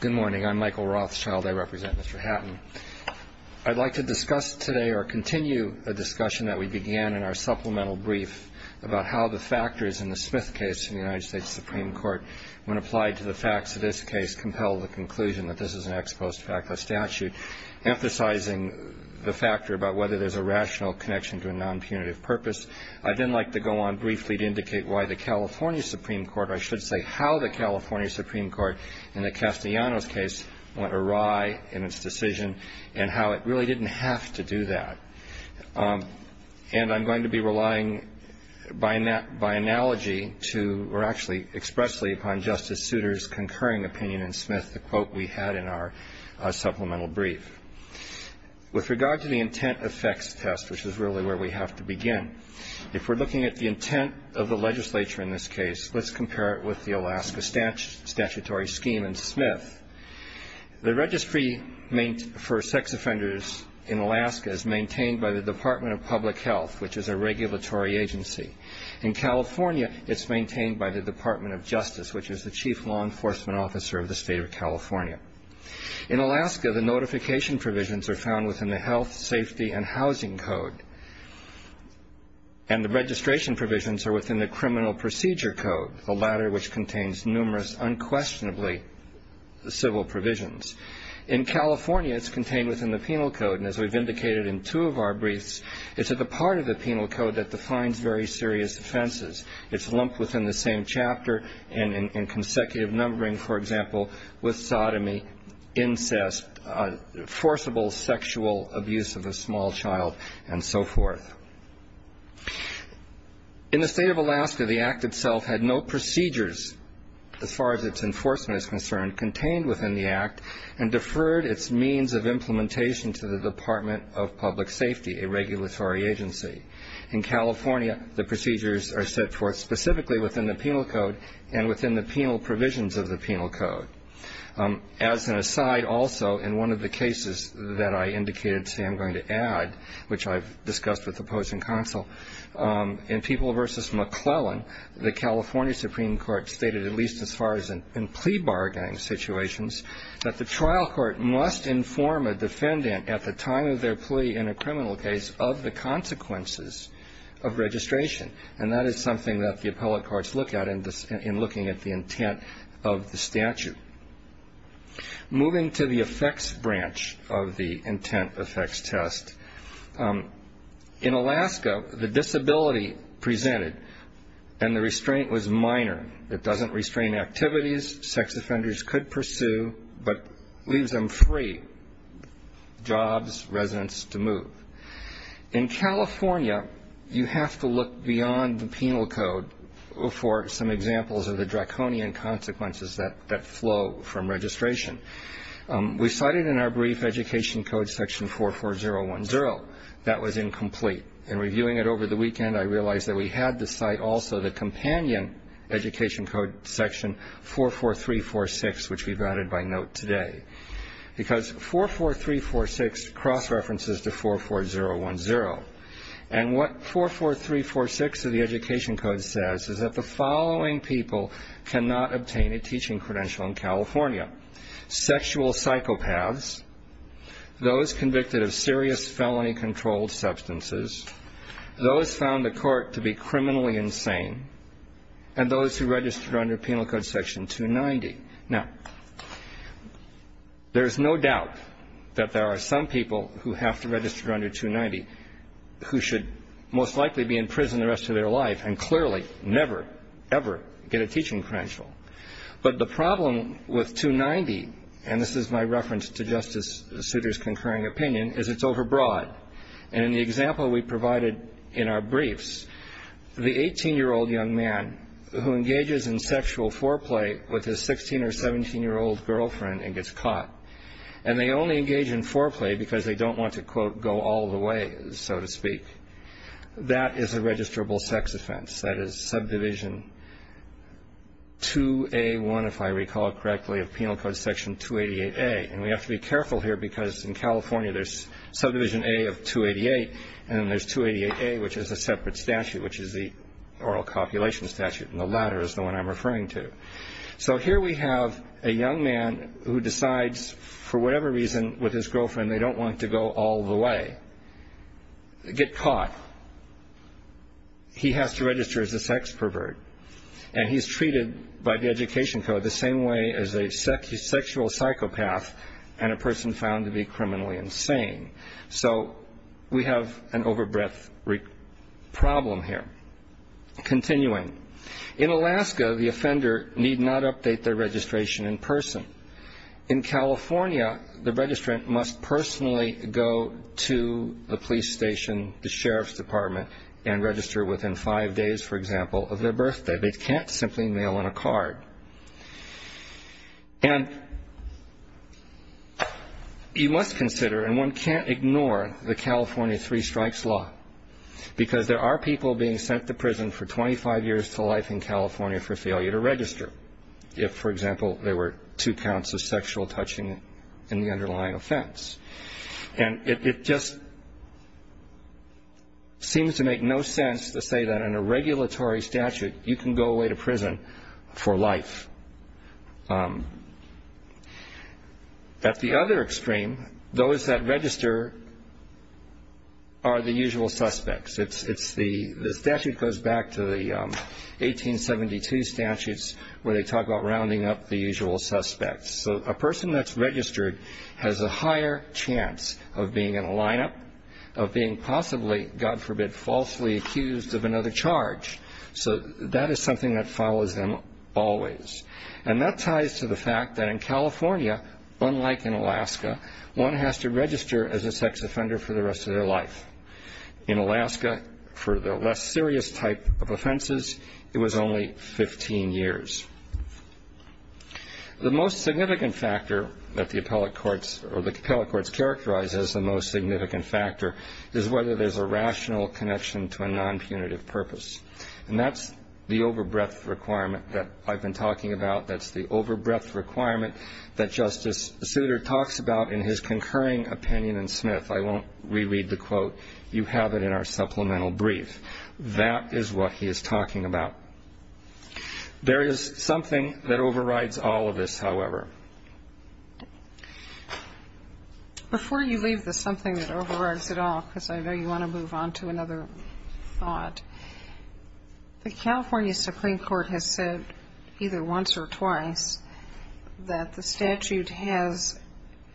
Good morning. I'm Michael Rothschild. I represent Mr. Hatton. I'd like to discuss today or continue a discussion that we began in our supplemental brief about how the factors in the Smith case in the United States Supreme Court, when applied to the facts of this case, compel the conclusion that this is an ex post facto statute, emphasizing the factor about whether there's a rational connection to a non-punitive purpose. I'd then like to go on briefly to indicate why the California Supreme Court, or I should say how the California Supreme Court in the Castellanos case went awry in its decision and how it really didn't have to do that. And I'm going to be relying by analogy to, or actually expressly upon Justice Souter's concurring opinion in Smith, the quote we had in our supplemental brief. With regard to the intent effects test, which is really where we have to begin, if we're looking at the intent of the legislature in this case, let's compare it with the Alaska statutory scheme in Smith. The registry for sex offenders in Alaska is maintained by the Department of Public Health, which is a regulatory agency. In California, it's maintained by the Department of Justice, which is the chief law enforcement officer of the state of California. In Alaska, the notification provisions are found within the Health, Safety, and Housing Code. And the registration provisions are within the Criminal Procedure Code, which is the latter, which contains numerous unquestionably civil provisions. In California, it's contained within the Penal Code. And as we've indicated in two of our briefs, it's at the part of the Penal Code that defines very serious offenses. It's lumped within the same chapter and in consecutive numbering, for example, with sodomy, incest, forcible sexual abuse of a small child, and so forth. In the state of Alaska, the Act itself had no procedures, as far as its enforcement is concerned, contained within the Act and deferred its means of implementation to the Department of Public Safety, a regulatory agency. In California, the procedures are set forth specifically within the Penal Code and within the penal provisions of the Penal Code. As an aside, also, in one of the cases that I indicated today I'm going to add, which I've discussed with the Board, the state of Alaska has a very strict law enforcement opposing counsel. In People v. McClellan, the California Supreme Court stated, at least as far as in plea bargaining situations, that the trial court must inform a defendant at the time of their plea in a criminal case of the consequences of registration. And that is something that the appellate courts look at in looking at the intent of the statute. Moving to the effects branch of the intent effects test, in Alaska, the disability presented and the restraint was minor. It doesn't restrain activities sex offenders could pursue, but leaves them free, jobs, residence to move. In California, you have to look beyond the Penal Code for some examples of the draconian consequences that flow from the Penal Code. We cited in our brief Education Code section 44010. That was incomplete. In reviewing it over the weekend, I realized that we had to cite also the companion Education Code section 44346, which we've added by note today. Because 44346 cross-references to 44010. And what 44346 of the Education Code says is that the following people cannot obtain a teaching credential in California. Sexual psychopaths, those convicted of serious felony-controlled substances, those found the court to be criminally insane, and those who registered under Penal Code section 290. Now, there's no doubt that there are some people who have to register under 290 who should most likely be in prison the rest of their life and clearly never, ever get a teaching credential. But the problem with 290, and this is my reference to Justice Souter's concurring opinion, is it's overbroad. And in the example we provided in our briefs, the 18-year-old young man who engages in sexual foreplay with his 16 or 17-year-old girlfriend and gets caught, and they only engage in foreplay because they don't want to, quote, go all the way, so to speak. That is a registrable sex offense. That is Subdivision 2A1, if I recall correctly, of Penal Code section 288A. And we have to be careful here because in California there's Subdivision A of 288, and then there's 288A, which is a separate statute, which is the Oral Copulation Statute, and the latter is the one I'm referring to. So here we have a young man who decides, for whatever reason, with his girlfriend they don't want to go all the way, get caught. He has to register as a sex pervert. And he's treated by the Education Code the same way as a sexual psychopath and a person found to be criminally insane. So we have an overbreadth problem here. Continuing, in Alaska, the offender need not update their registration in person. In California, the registrant must personally go to the police station, the sheriff's department, and register within five days, for example, of their birthday. They can't simply mail in a card. And you must consider, and one can't ignore the California Three Strikes Law, because there are people being sent to prison for 25 years to life in California for failure to register, if, for example, there were two counts of sexual touching in the underlying offense. And it just seems to make no sense to say that in a regulatory statute you can go away to prison for life. At the other extreme, those that register are the usual suspects. The statute goes back to the 1872 statutes where they talk about rounding up the usual suspects. So a person that's registered has a higher chance of being in a lineup, of being possibly, God forbid, falsely accused of another charge. So that is something that follows them always. And that ties to the fact that in California, unlike in Alaska, one has to register as a sex offender for the rest of their life. In Alaska, for the less serious type of offenses, it was only 15 years. The most significant factor that the appellate courts characterize as the most significant factor is whether there's a rational connection to a nonpunitive purpose. And that's the overbreadth requirement that I've been talking about. That's the overbreadth requirement that Justice Souter talks about in his concurring opinion in Smith. I won't reread the quote. You have it in our supplemental brief. That is what he is talking about. There is something that overrides all of this, however. Before you leave the something that overrides it all, because I know you want to move on to another thought, the California Supreme Court has said either once or twice that the statute has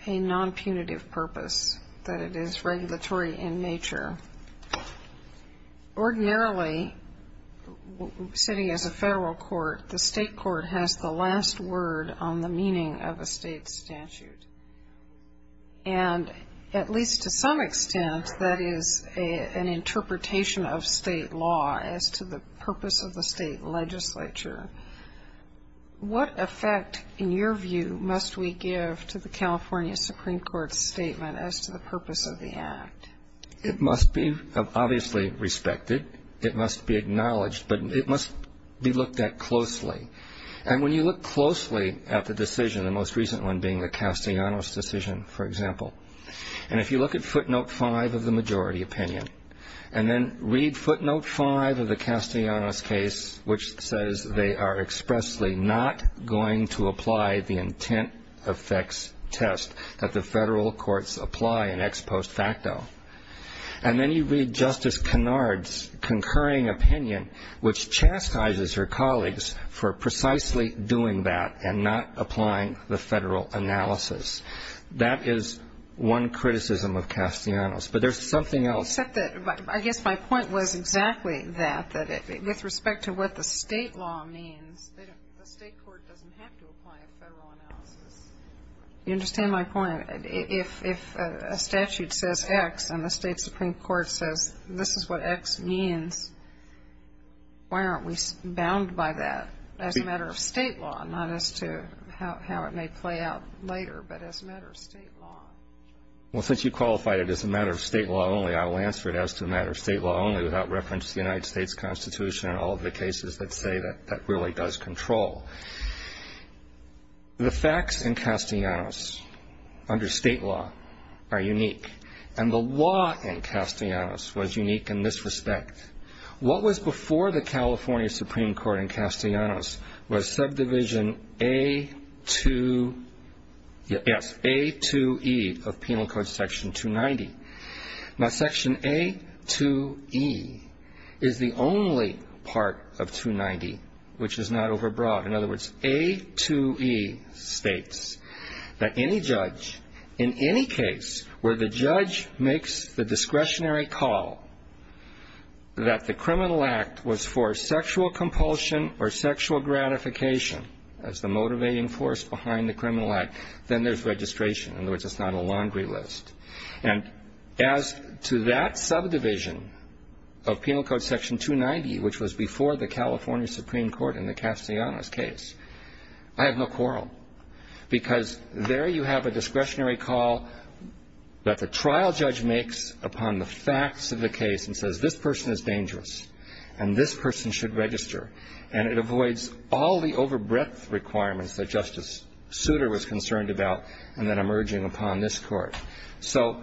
a nonpunitive purpose, that it is regulatory in nature. Ordinarily, sitting as a federal court, the state court has the last word on the meaning of a state statute. And at least to some extent, that is an interpretation of state law as to the purpose of the state legislature. What effect, in your view, must we give to the California Supreme Court's statement as to the purpose of the act? It must be obviously respected. It must be acknowledged. But it must be looked at closely. And when you look closely at the decision, the most recent one being the Castellanos decision, for example, and if you look at footnote five of the majority opinion and then read footnote five of the Castellanos case, which says they are expressly not going to apply the intent effects test that the federal courts apply in ex post facto. And then you read Justice Kennard's concurring opinion, which chastises her colleagues for precisely doing that and not applying the federal analysis. That is one criticism of Castellanos. But there's something else. Except that I guess my point was exactly that, that with respect to what the state law means, the state court doesn't have to apply a federal analysis. You understand my point? If a statute says X and the state supreme court says this is what X means, why aren't we bound by that as a matter of state law, not as to how it may play out later, but as a matter of state law? Well, since you qualified it as a matter of state law only, I'll answer it as to a matter of state law only without reference to the United States Constitution and all of the cases that say that that really does control. The facts in Castellanos under state law are unique, and the law in Castellanos was unique in this respect. What was before the California Supreme Court in Castellanos was subdivision A2E of penal code section 290. Now, section A2E is the only part of 290 which is not overbroad. In other words, A2E states that any judge in any case where the judge makes the discretionary call that the criminal act was for sexual compulsion or sexual gratification as the motivating force behind the criminal act, then there's registration. In other words, it's not a laundry list. And as to that subdivision of penal code section 290, which was before the California Supreme Court in the Castellanos case, I have no quarrel because there you have a discretionary call that the trial judge makes upon the facts of the case and says this person is dangerous and this person should register, and it avoids all the overbreadth requirements that Justice Souter was concerned about and then emerging upon this court. So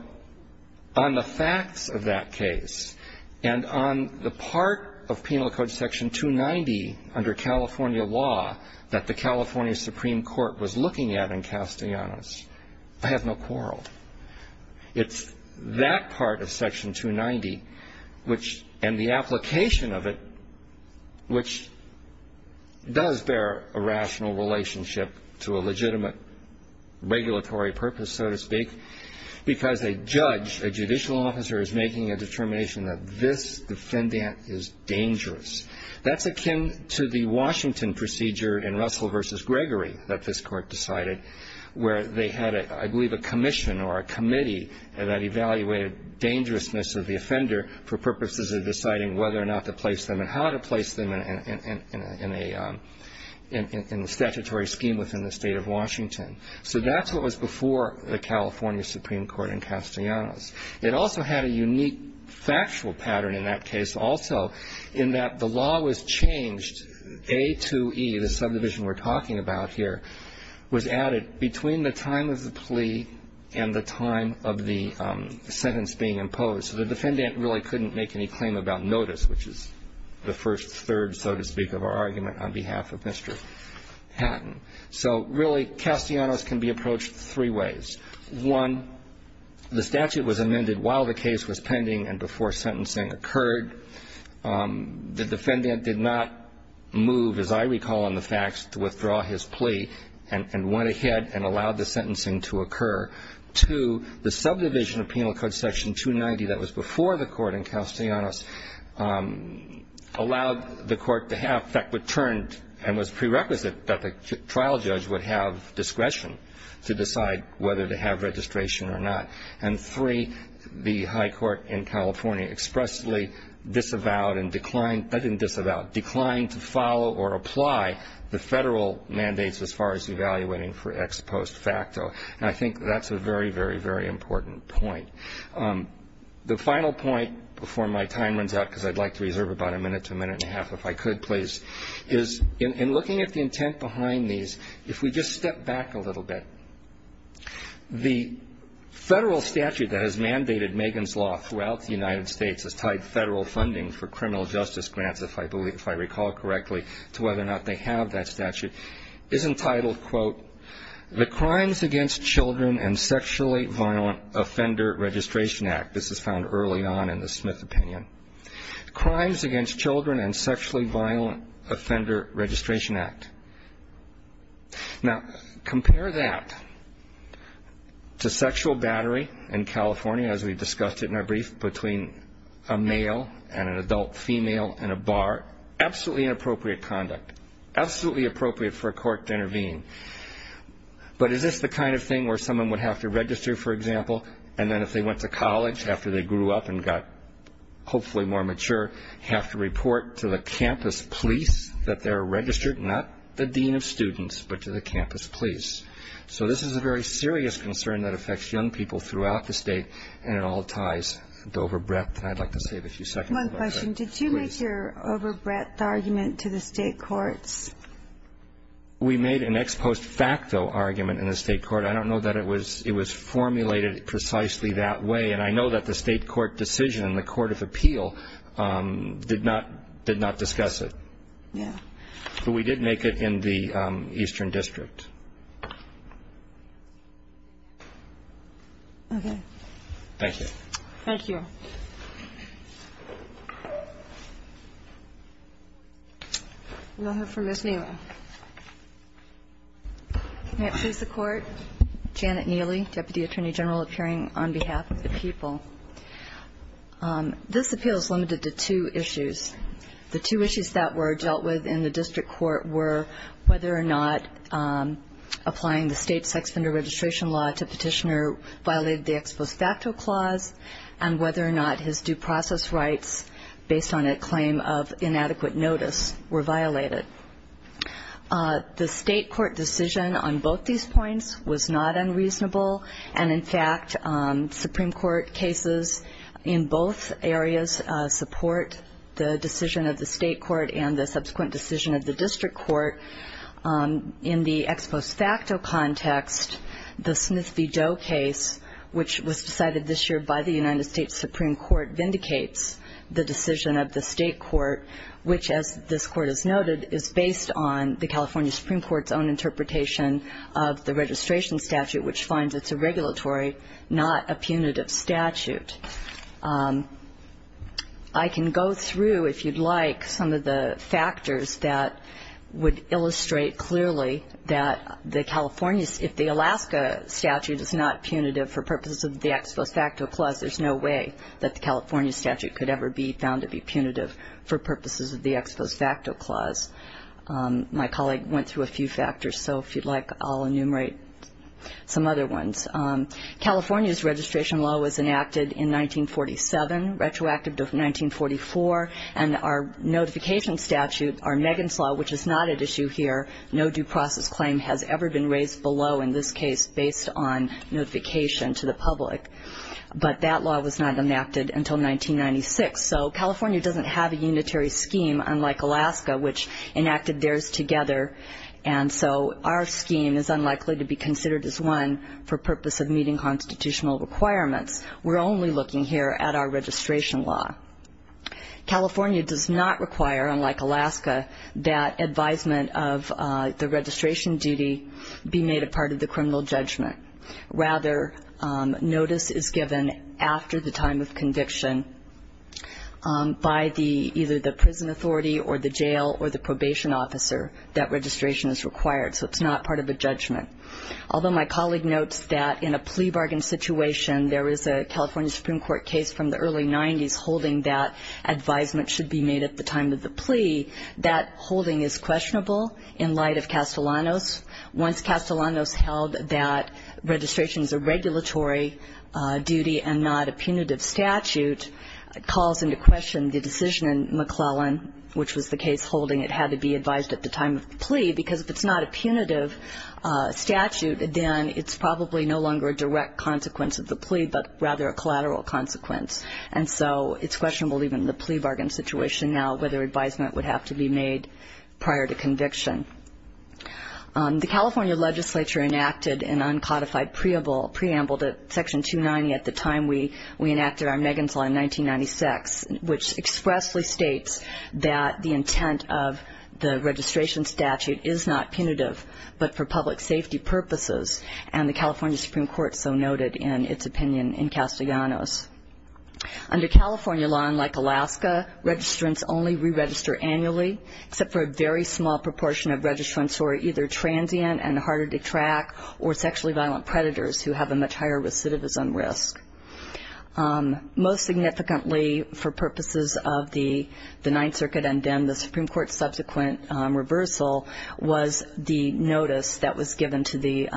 on the facts of that case and on the part of penal code section 290 under California law that the California Supreme Court was looking at in Castellanos, I have no quarrel. It's that part of section 290 and the application of it which does bear a rational relationship to a legitimate regulatory purpose, so to speak, because a judge, a judicial officer, is making a determination that this defendant is dangerous. That's akin to the Washington procedure in Russell v. Gregory that this court decided where they had, I believe, a commission or a committee that evaluated dangerousness of the offender for purposes of deciding whether or not to place them and how to place them in a statutory scheme within the state of Washington. So that's what was before the California Supreme Court in Castellanos. It also had a unique factual pattern in that case also in that the law was changed. A2E, the subdivision we're talking about here, was added between the time of the plea and the time of the sentence being imposed. So the defendant really couldn't make any claim about notice, which is the first third, so to speak, of our argument on behalf of Mr. Hatton. So really, Castellanos can be approached three ways. One, the statute was amended while the case was pending and before sentencing occurred. The defendant did not move, as I recall in the facts, to withdraw his plea and went ahead and allowed the sentencing to occur. Two, the subdivision of Penal Code Section 290 that was before the court in Castellanos allowed the court to have, in fact, returned and was prerequisite that the trial judge would have discretion to decide whether to have registration or not. And three, the high court in California expressly disavowed and declined to follow or apply the federal mandates as far as evaluating for ex post facto. And I think that's a very, very, very important point. The final point before my time runs out, because I'd like to reserve about a minute to a minute and a half if I could, please, is in looking at the intent behind these, if we just step back a little bit, the federal statute that has mandated Megan's Law throughout the United States has tied federal funding for criminal justice grants, if I recall correctly, to whether or not they have that statute, is entitled, quote, the Crimes Against Children and Sexually Violent Offender Registration Act. This is found early on in the Smith opinion. Crimes Against Children and Sexually Violent Offender Registration Act. Now, compare that to sexual battery in California, as we discussed it in our brief, between a male and an adult female in a bar. Absolutely inappropriate conduct. Absolutely appropriate for a court to intervene. But is this the kind of thing where someone would have to register, for example, and then if they went to college after they grew up and got hopefully more mature, have to report to the campus police that they're registered? Not the dean of students, but to the campus police. So this is a very serious concern that affects young people throughout the state, and it all ties to over breadth, and I'd like to save a few seconds. One question. Did you make your over breadth argument to the state courts? We made an ex post facto argument in the state court. I don't know that it was formulated precisely that way, and I know that the state court decision in the court of appeal did not discuss it. Yeah. But we did make it in the Eastern District. Okay. Thank you. Thank you. We'll hear from Ms. Neal. May it please the Court? Janet Neely, Deputy Attorney General, appearing on behalf of the people. This appeal is limited to two issues. The two issues that were dealt with in the district court were whether or not applying the state sex offender registration law to petitioner violated the ex post facto clause and whether or not his due process rights based on a claim of inadequate notice were violated. The state court decision on both these points was not unreasonable, and, in fact, Supreme Court cases in both areas support the decision of the state court and the subsequent decision of the district court. In the ex post facto context, the Smith v. Doe case, which was decided this year by the United States Supreme Court, vindicates the decision of the state court, which, as this Court has noted, is based on the California Supreme Court's own interpretation of the registration statute, which finds it's a regulatory, not a punitive statute. I can go through, if you'd like, some of the factors that would illustrate clearly that if the Alaska statute is not punitive for purposes of the ex post facto clause, there's no way that the California statute could ever be found to be punitive for purposes of the ex post facto clause. My colleague went through a few factors, so if you'd like, I'll enumerate some other ones. California's registration law was enacted in 1947, retroactive to 1944, and our notification statute, our Megan's Law, which is not at issue here, no due process claim has ever been raised below in this case based on notification to the public. But that law was not enacted until 1996, so California doesn't have a unitary scheme unlike Alaska, which enacted theirs together, and so our scheme is unlikely to be considered as one for purpose of meeting constitutional requirements. We're only looking here at our registration law. California does not require, unlike Alaska, that advisement of the registration duty be made a part of the criminal judgment. Rather, notice is given after the time of conviction by either the prison authority or the jail or the probation officer that registration is required, so it's not part of a judgment. Although my colleague notes that in a plea bargain situation, there is a California Supreme Court case from the early 90s holding that advisement should be made at the time of the plea, that holding is questionable in light of Castellanos. Once Castellanos held that registration is a regulatory duty and not a punitive statute, it calls into question the decision in McClellan, which was the case holding it had to be advised at the time of the plea, because if it's not a punitive statute, then it's probably no longer a direct consequence of the plea, but rather a collateral consequence, and so it's questionable even in the plea bargain situation now whether advisement would have to be made prior to conviction. The California legislature enacted an uncodified preamble to Section 290 at the time we enacted our Megan's Law in 1996, which expressly states that the intent of the registration statute is not punitive, but for public safety purposes, and the California Supreme Court so noted in its opinion in Castellanos. Under California law, unlike Alaska, registrants only re-register annually, except for a very small proportion of registrants who are either transient and harder to track or sexually violent predators who have a much higher recidivism risk. Most significantly for purposes of the Ninth Circuit and then the Supreme Court's subsequent reversal was the notice that was given to the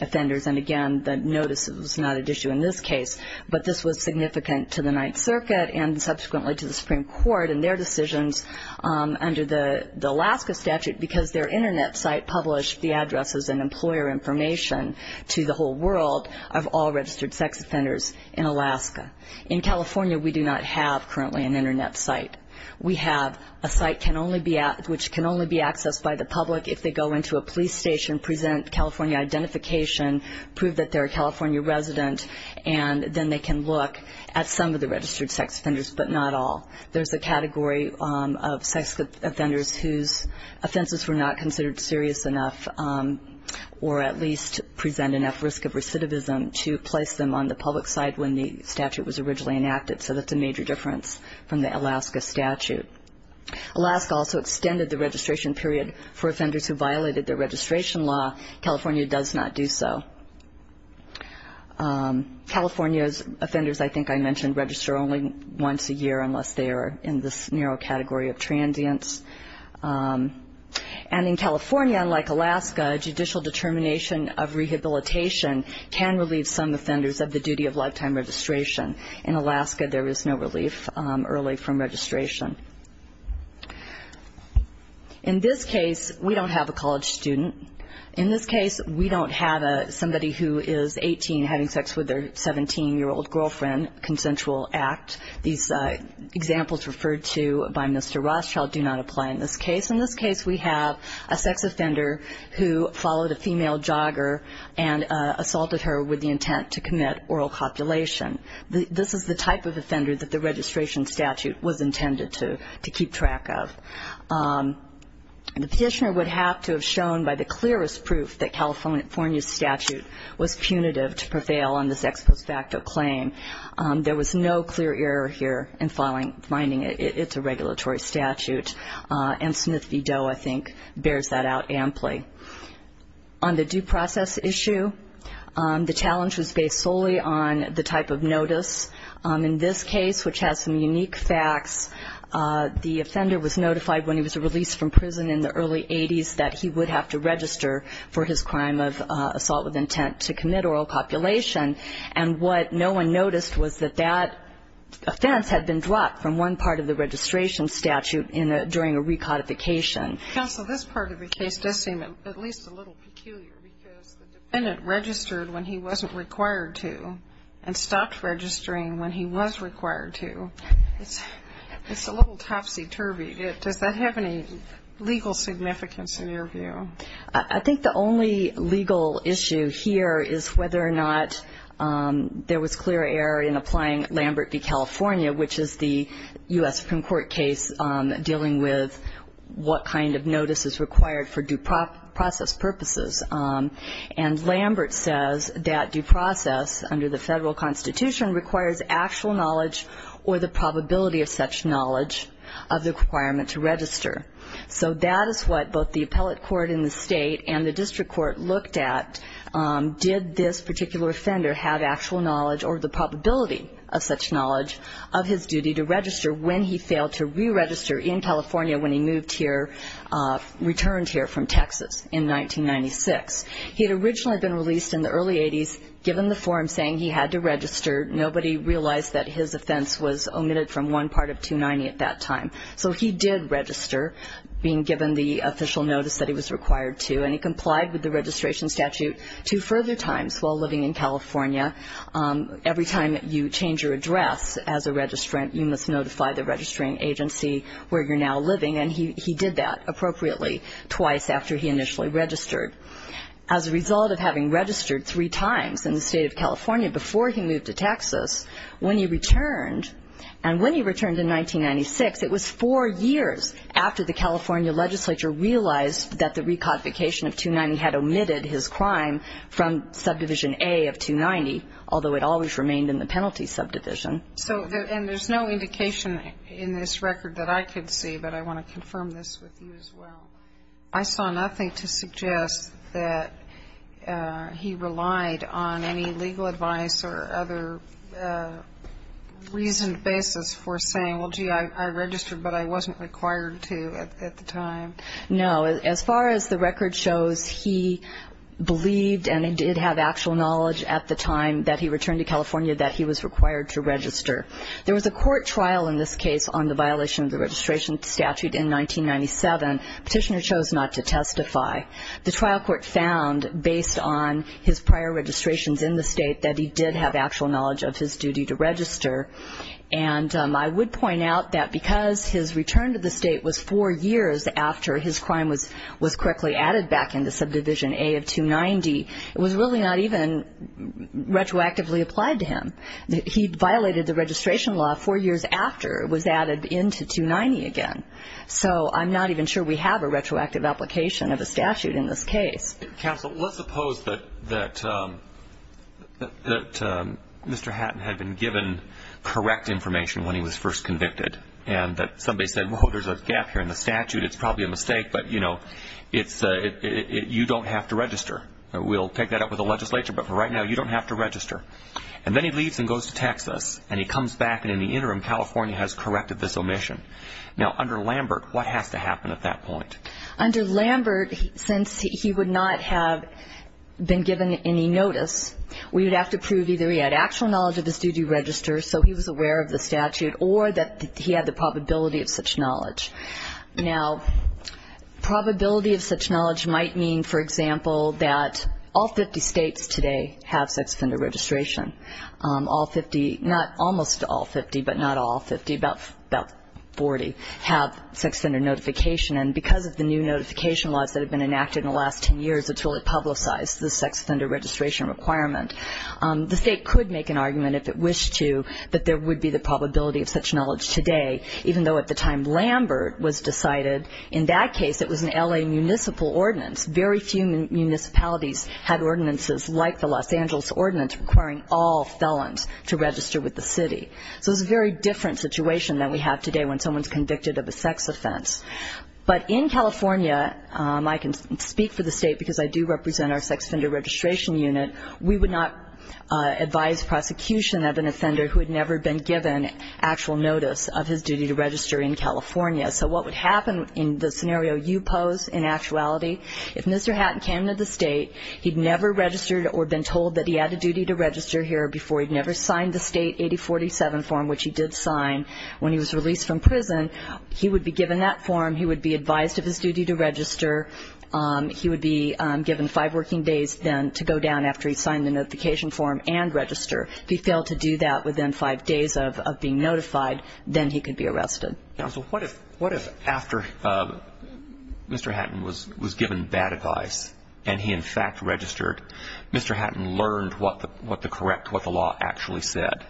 offenders, and again, the notice was not at issue in this case, but this was significant to the Ninth Circuit and subsequently to the Supreme Court and their decisions under the Alaska statute, because their Internet site published the addresses and employer information to the whole world of all registered sex offenders in Alaska. In California, we do not have currently an Internet site. We have a site which can only be accessed by the public if they go into a police station, present California identification, prove that they're a California resident, and then they can look at some of the registered sex offenders, but not all. There's a category of sex offenders whose offenses were not considered serious enough or at least present enough risk of recidivism to place them on the public site when the statute was originally enacted, so that's a major difference from the Alaska statute. Alaska also extended the registration period for offenders who violated the registration law. California does not do so. California's offenders, I think I mentioned, register only once a year unless they are in this narrow category of transients. And in California, unlike Alaska, judicial determination of rehabilitation can relieve some offenders of the duty of lifetime registration. In Alaska, there is no relief early from registration. In this case, we don't have a college student. In this case, we don't have somebody who is 18 having sex with their 17-year-old girlfriend, consensual act. These examples referred to by Mr. Rothschild do not apply in this case. In this case, we have a sex offender who followed a female jogger and assaulted her with the intent to commit oral copulation. This is the type of offender that the registration statute was intended to keep track of. The petitioner would have to have shown by the clearest proof that California's statute was punitive to prevail on this ex post facto claim. There was no clear error here in finding it. It's a regulatory statute, and Smith v. Doe, I think, bears that out amply. On the due process issue, the challenge was based solely on the type of notice. In this case, which has some unique facts, the offender was notified when he was released from prison in the early 80s that he would have to register for his crime of assault with intent to commit oral copulation, and what no one noticed was that that offense had been dropped from one part of the registration statute during a recodification. Counsel, this part of the case does seem at least a little peculiar because the defendant registered when he wasn't required to and stopped registering when he was required to. It's a little topsy-turvy. Does that have any legal significance in your view? I think the only legal issue here is whether or not there was clear error in applying Lambert v. California, which is the U.S. Supreme Court case dealing with what kind of notice is required for due process purposes. And Lambert says that due process under the federal Constitution requires actual knowledge or the probability of such knowledge of the requirement to register. So that is what both the appellate court in the state and the district court looked at. Did this particular offender have actual knowledge or the probability of such knowledge of his duty to register when he failed to re-register in California when he moved here, returned here from Texas in 1996? He had originally been released in the early 80s, given the form saying he had to register. Nobody realized that his offense was omitted from one part of 290 at that time. So he did register, being given the official notice that he was required to, and he complied with the registration statute two further times while living in California. Every time you change your address as a registrant, you must notify the registering agency where you're now living. And he did that appropriately twice after he initially registered. As a result of having registered three times in the state of California before he moved to Texas, when he returned, and when he returned in 1996, it was four years after the California legislature realized that the recodification of 290 had omitted his crime from subdivision A of 290, although it always remained in the penalty subdivision. And there's no indication in this record that I could see, but I want to confirm this with you as well. I saw nothing to suggest that he relied on any legal advice or other reasoned basis for saying, well, gee, I registered, but I wasn't required to at the time. No, as far as the record shows, he believed and did have actual knowledge at the time that he returned to California that he was required to register. There was a court trial in this case on the violation of the registration statute in 1997. Petitioner chose not to testify. The trial court found, based on his prior registrations in the state, that he did have actual knowledge of his duty to register. And I would point out that because his return to the state was four years after his crime was correctly added back into subdivision A of 290, it was really not even retroactively applied to him. He violated the registration law four years after it was added into 290 again. So I'm not even sure we have a retroactive application of a statute in this case. Counsel, let's suppose that Mr. Hatton had been given correct information when he was first convicted and that somebody said, well, there's a gap here in the statute, it's probably a mistake, but, you know, you don't have to register. We'll pick that up with the legislature, but for right now you don't have to register. And then he leaves and goes to Texas and he comes back and in the interim California has corrected this omission. Now, under Lambert, what has to happen at that point? Under Lambert, since he would not have been given any notice, we would have to prove either he had actual knowledge of his duty to register so he was aware of the statute or that he had the probability of such knowledge. Now, probability of such knowledge might mean, for example, that all 50 states today have sex offender registration. Almost all 50, but not all 50, about 40 have sex offender notification. And because of the new notification laws that have been enacted in the last 10 years, it's really publicized the sex offender registration requirement. The state could make an argument, if it wished to, that there would be the probability of such knowledge today, even though at the time Lambert was decided, in that case it was an L.A. municipal ordinance. Very few municipalities had ordinances like the Los Angeles ordinance requiring all felons to register with the city. So it's a very different situation than we have today when someone's convicted of a sex offense. But in California, I can speak for the state because I do represent our sex offender registration unit, we would not advise prosecution of an offender who had never been given actual notice of his duty to register in California. So what would happen in the scenario you pose in actuality, if Mr. Hatton came to the state, he'd never registered or been told that he had a duty to register here before, he'd never signed the state 8047 form, which he did sign when he was released from prison, he would be given that form, he would be advised of his duty to register, he would be given five working days then to go down after he signed the notification form and register. If he failed to do that within five days of being notified, then he could be arrested. Counsel, what if after Mr. Hatton was given bad advice and he in fact registered, Mr. Hatton learned what the correct, what the law actually said,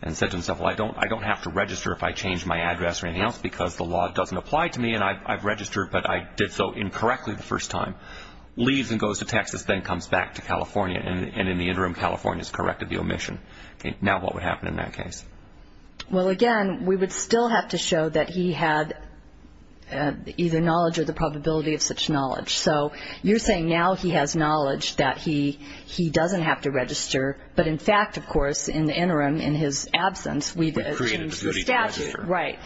and said to himself, well, I don't have to register if I change my address or anything else because the law doesn't apply to me and I've registered, but I did so incorrectly the first time, leaves and goes to Texas, then comes back to California, and in the interim California has corrected the omission. Now what would happen in that case? Well, again, we would still have to show that he had either knowledge or the probability of such knowledge. So you're saying now he has knowledge that he doesn't have to register, but in fact, of course, in the interim, in his absence, we've changed the statute. Right.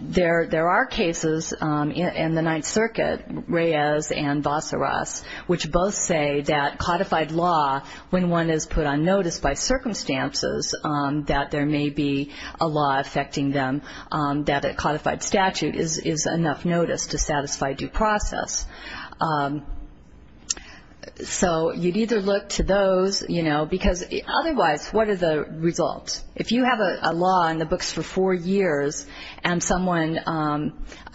There are cases in the Ninth Circuit, Reyes and Vassaras, which both say that codified law, when one is put on notice by circumstances that there may be a law affecting them, that a codified statute is enough notice to satisfy due process. So you'd either look to those, you know, because otherwise, what are the results? If you have a law in the books for four years and someone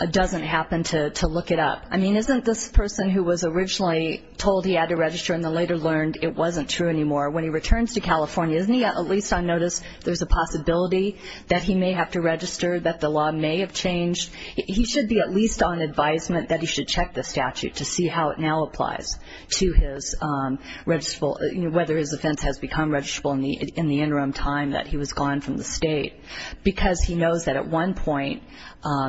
doesn't happen to look it up, I mean, isn't this person who was originally told he had to register and then later learned it wasn't true anymore, when he returns to California, isn't he at least on notice? There's a possibility that he may have to register, that the law may have changed. He should be at least on advisement that he should check the statute to see how it now applies to his registrable, you know, whether his offense has become registrable in the interim time that he was gone from the state. Because he knows that at one point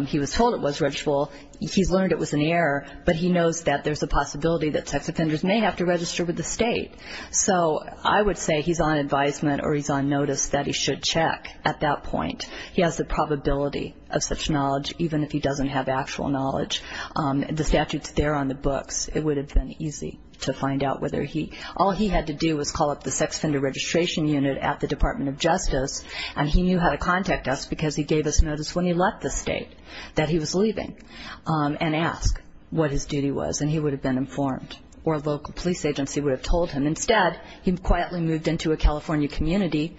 he was told it was registrable, he's learned it was in the air, but he knows that there's a possibility that sex offenders may have to register with the state. So I would say he's on advisement or he's on notice that he should check at that point. He has the probability of such knowledge, even if he doesn't have actual knowledge. The statute's there on the books. It would have been easy to find out whether he – all he had to do was call up the sex offender registration unit at the Department of Justice, and he knew how to contact us because he gave us notice when he left the state that he was leaving and ask what his duty was, and he would have been informed, or a local police agency would have told him. Instead, he quietly moved into a California community.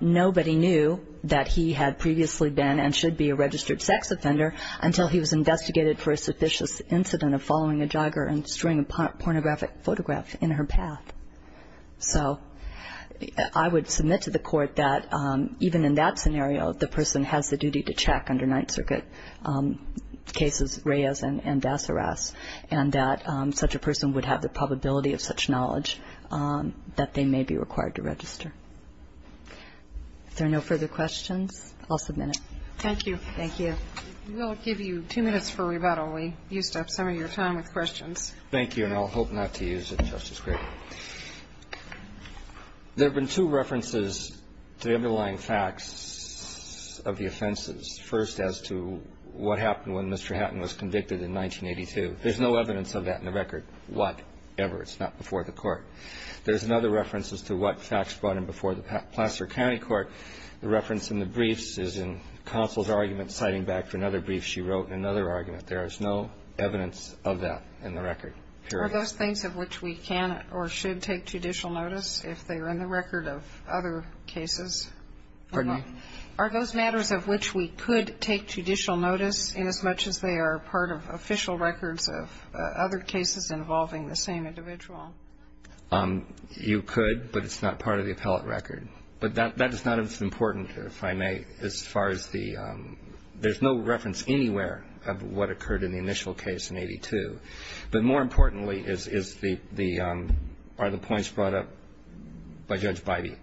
Nobody knew that he had previously been and should be a registered sex offender until he was investigated for a sufficient incident of following a jogger and showing a pornographic photograph in her path. So I would submit to the court that even in that scenario, the person has the duty to check under Ninth Circuit cases, Reyes and Dasseras, and that such a person would have the probability of such knowledge that they may be required to register. If there are no further questions, I'll submit it. Thank you. Thank you. We'll give you two minutes for rebuttal. We used up some of your time with questions. Thank you, and I'll hope not to use it, Justice Kagan. There have been two references to the underlying facts of the offenses. First, as to what happened when Mr. Hatton was convicted in 1982. There's no evidence of that in the record. Whatever. It's not before the Court. There's another reference as to what facts brought him before the Placer County Court. The reference in the briefs is in counsel's argument citing back to another brief she wrote in another argument. There is no evidence of that in the record. Period. Are those things of which we can or should take judicial notice if they are in the record of other cases? Pardon me? Are those matters of which we could take judicial notice as much as they are part of official records of other cases involving the same individual? You could, but it's not part of the appellate record. But that is not as important, if I may, as far as the ‑‑ there's no reference anywhere of what occurred in the initial case in 82. But more importantly are the points brought up by Judge Bybee.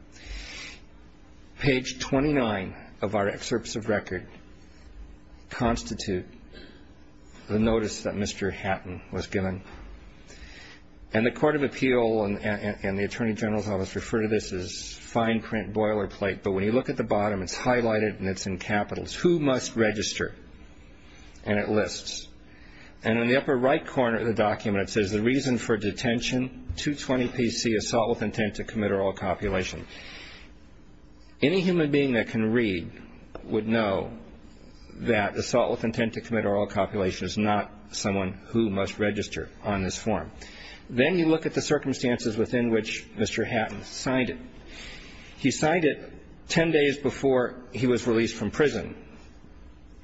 Page 29 of our excerpts of record constitute the notice that Mr. Hatton was given. And the Court of Appeal and the Attorney General's Office refer to this as fine print boilerplate. But when you look at the bottom, it's highlighted and it's in capitals. Who must register? And it lists. And in the upper right corner of the document, it says the reason for detention, 220PC, assault with intent to commit oral copulation. Any human being that can read would know that assault with intent to commit oral copulation is not someone who must register on this form. Then you look at the circumstances within which Mr. Hatton signed it. He signed it ten days before he was released from prison,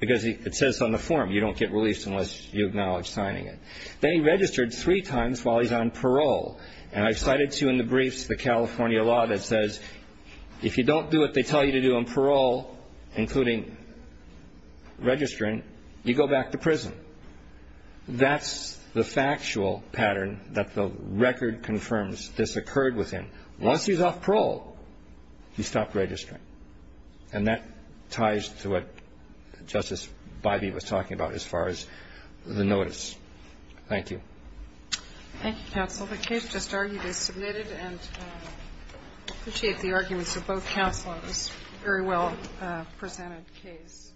because it says on the form, you don't get released unless you acknowledge signing it. Then he registered three times while he's on parole. And I've cited two in the briefs, the California law that says if you don't do what they tell you to do on parole, including registering, you go back to prison. That's the factual pattern that the record confirms this occurred with him. Once he's off parole, he stopped registering. And that ties to what Justice Bybee was talking about as far as the notice. Thank you. Thank you, counsel. Well, the case just argued is submitted, and I appreciate the arguments of both counsel on this very well-presented case.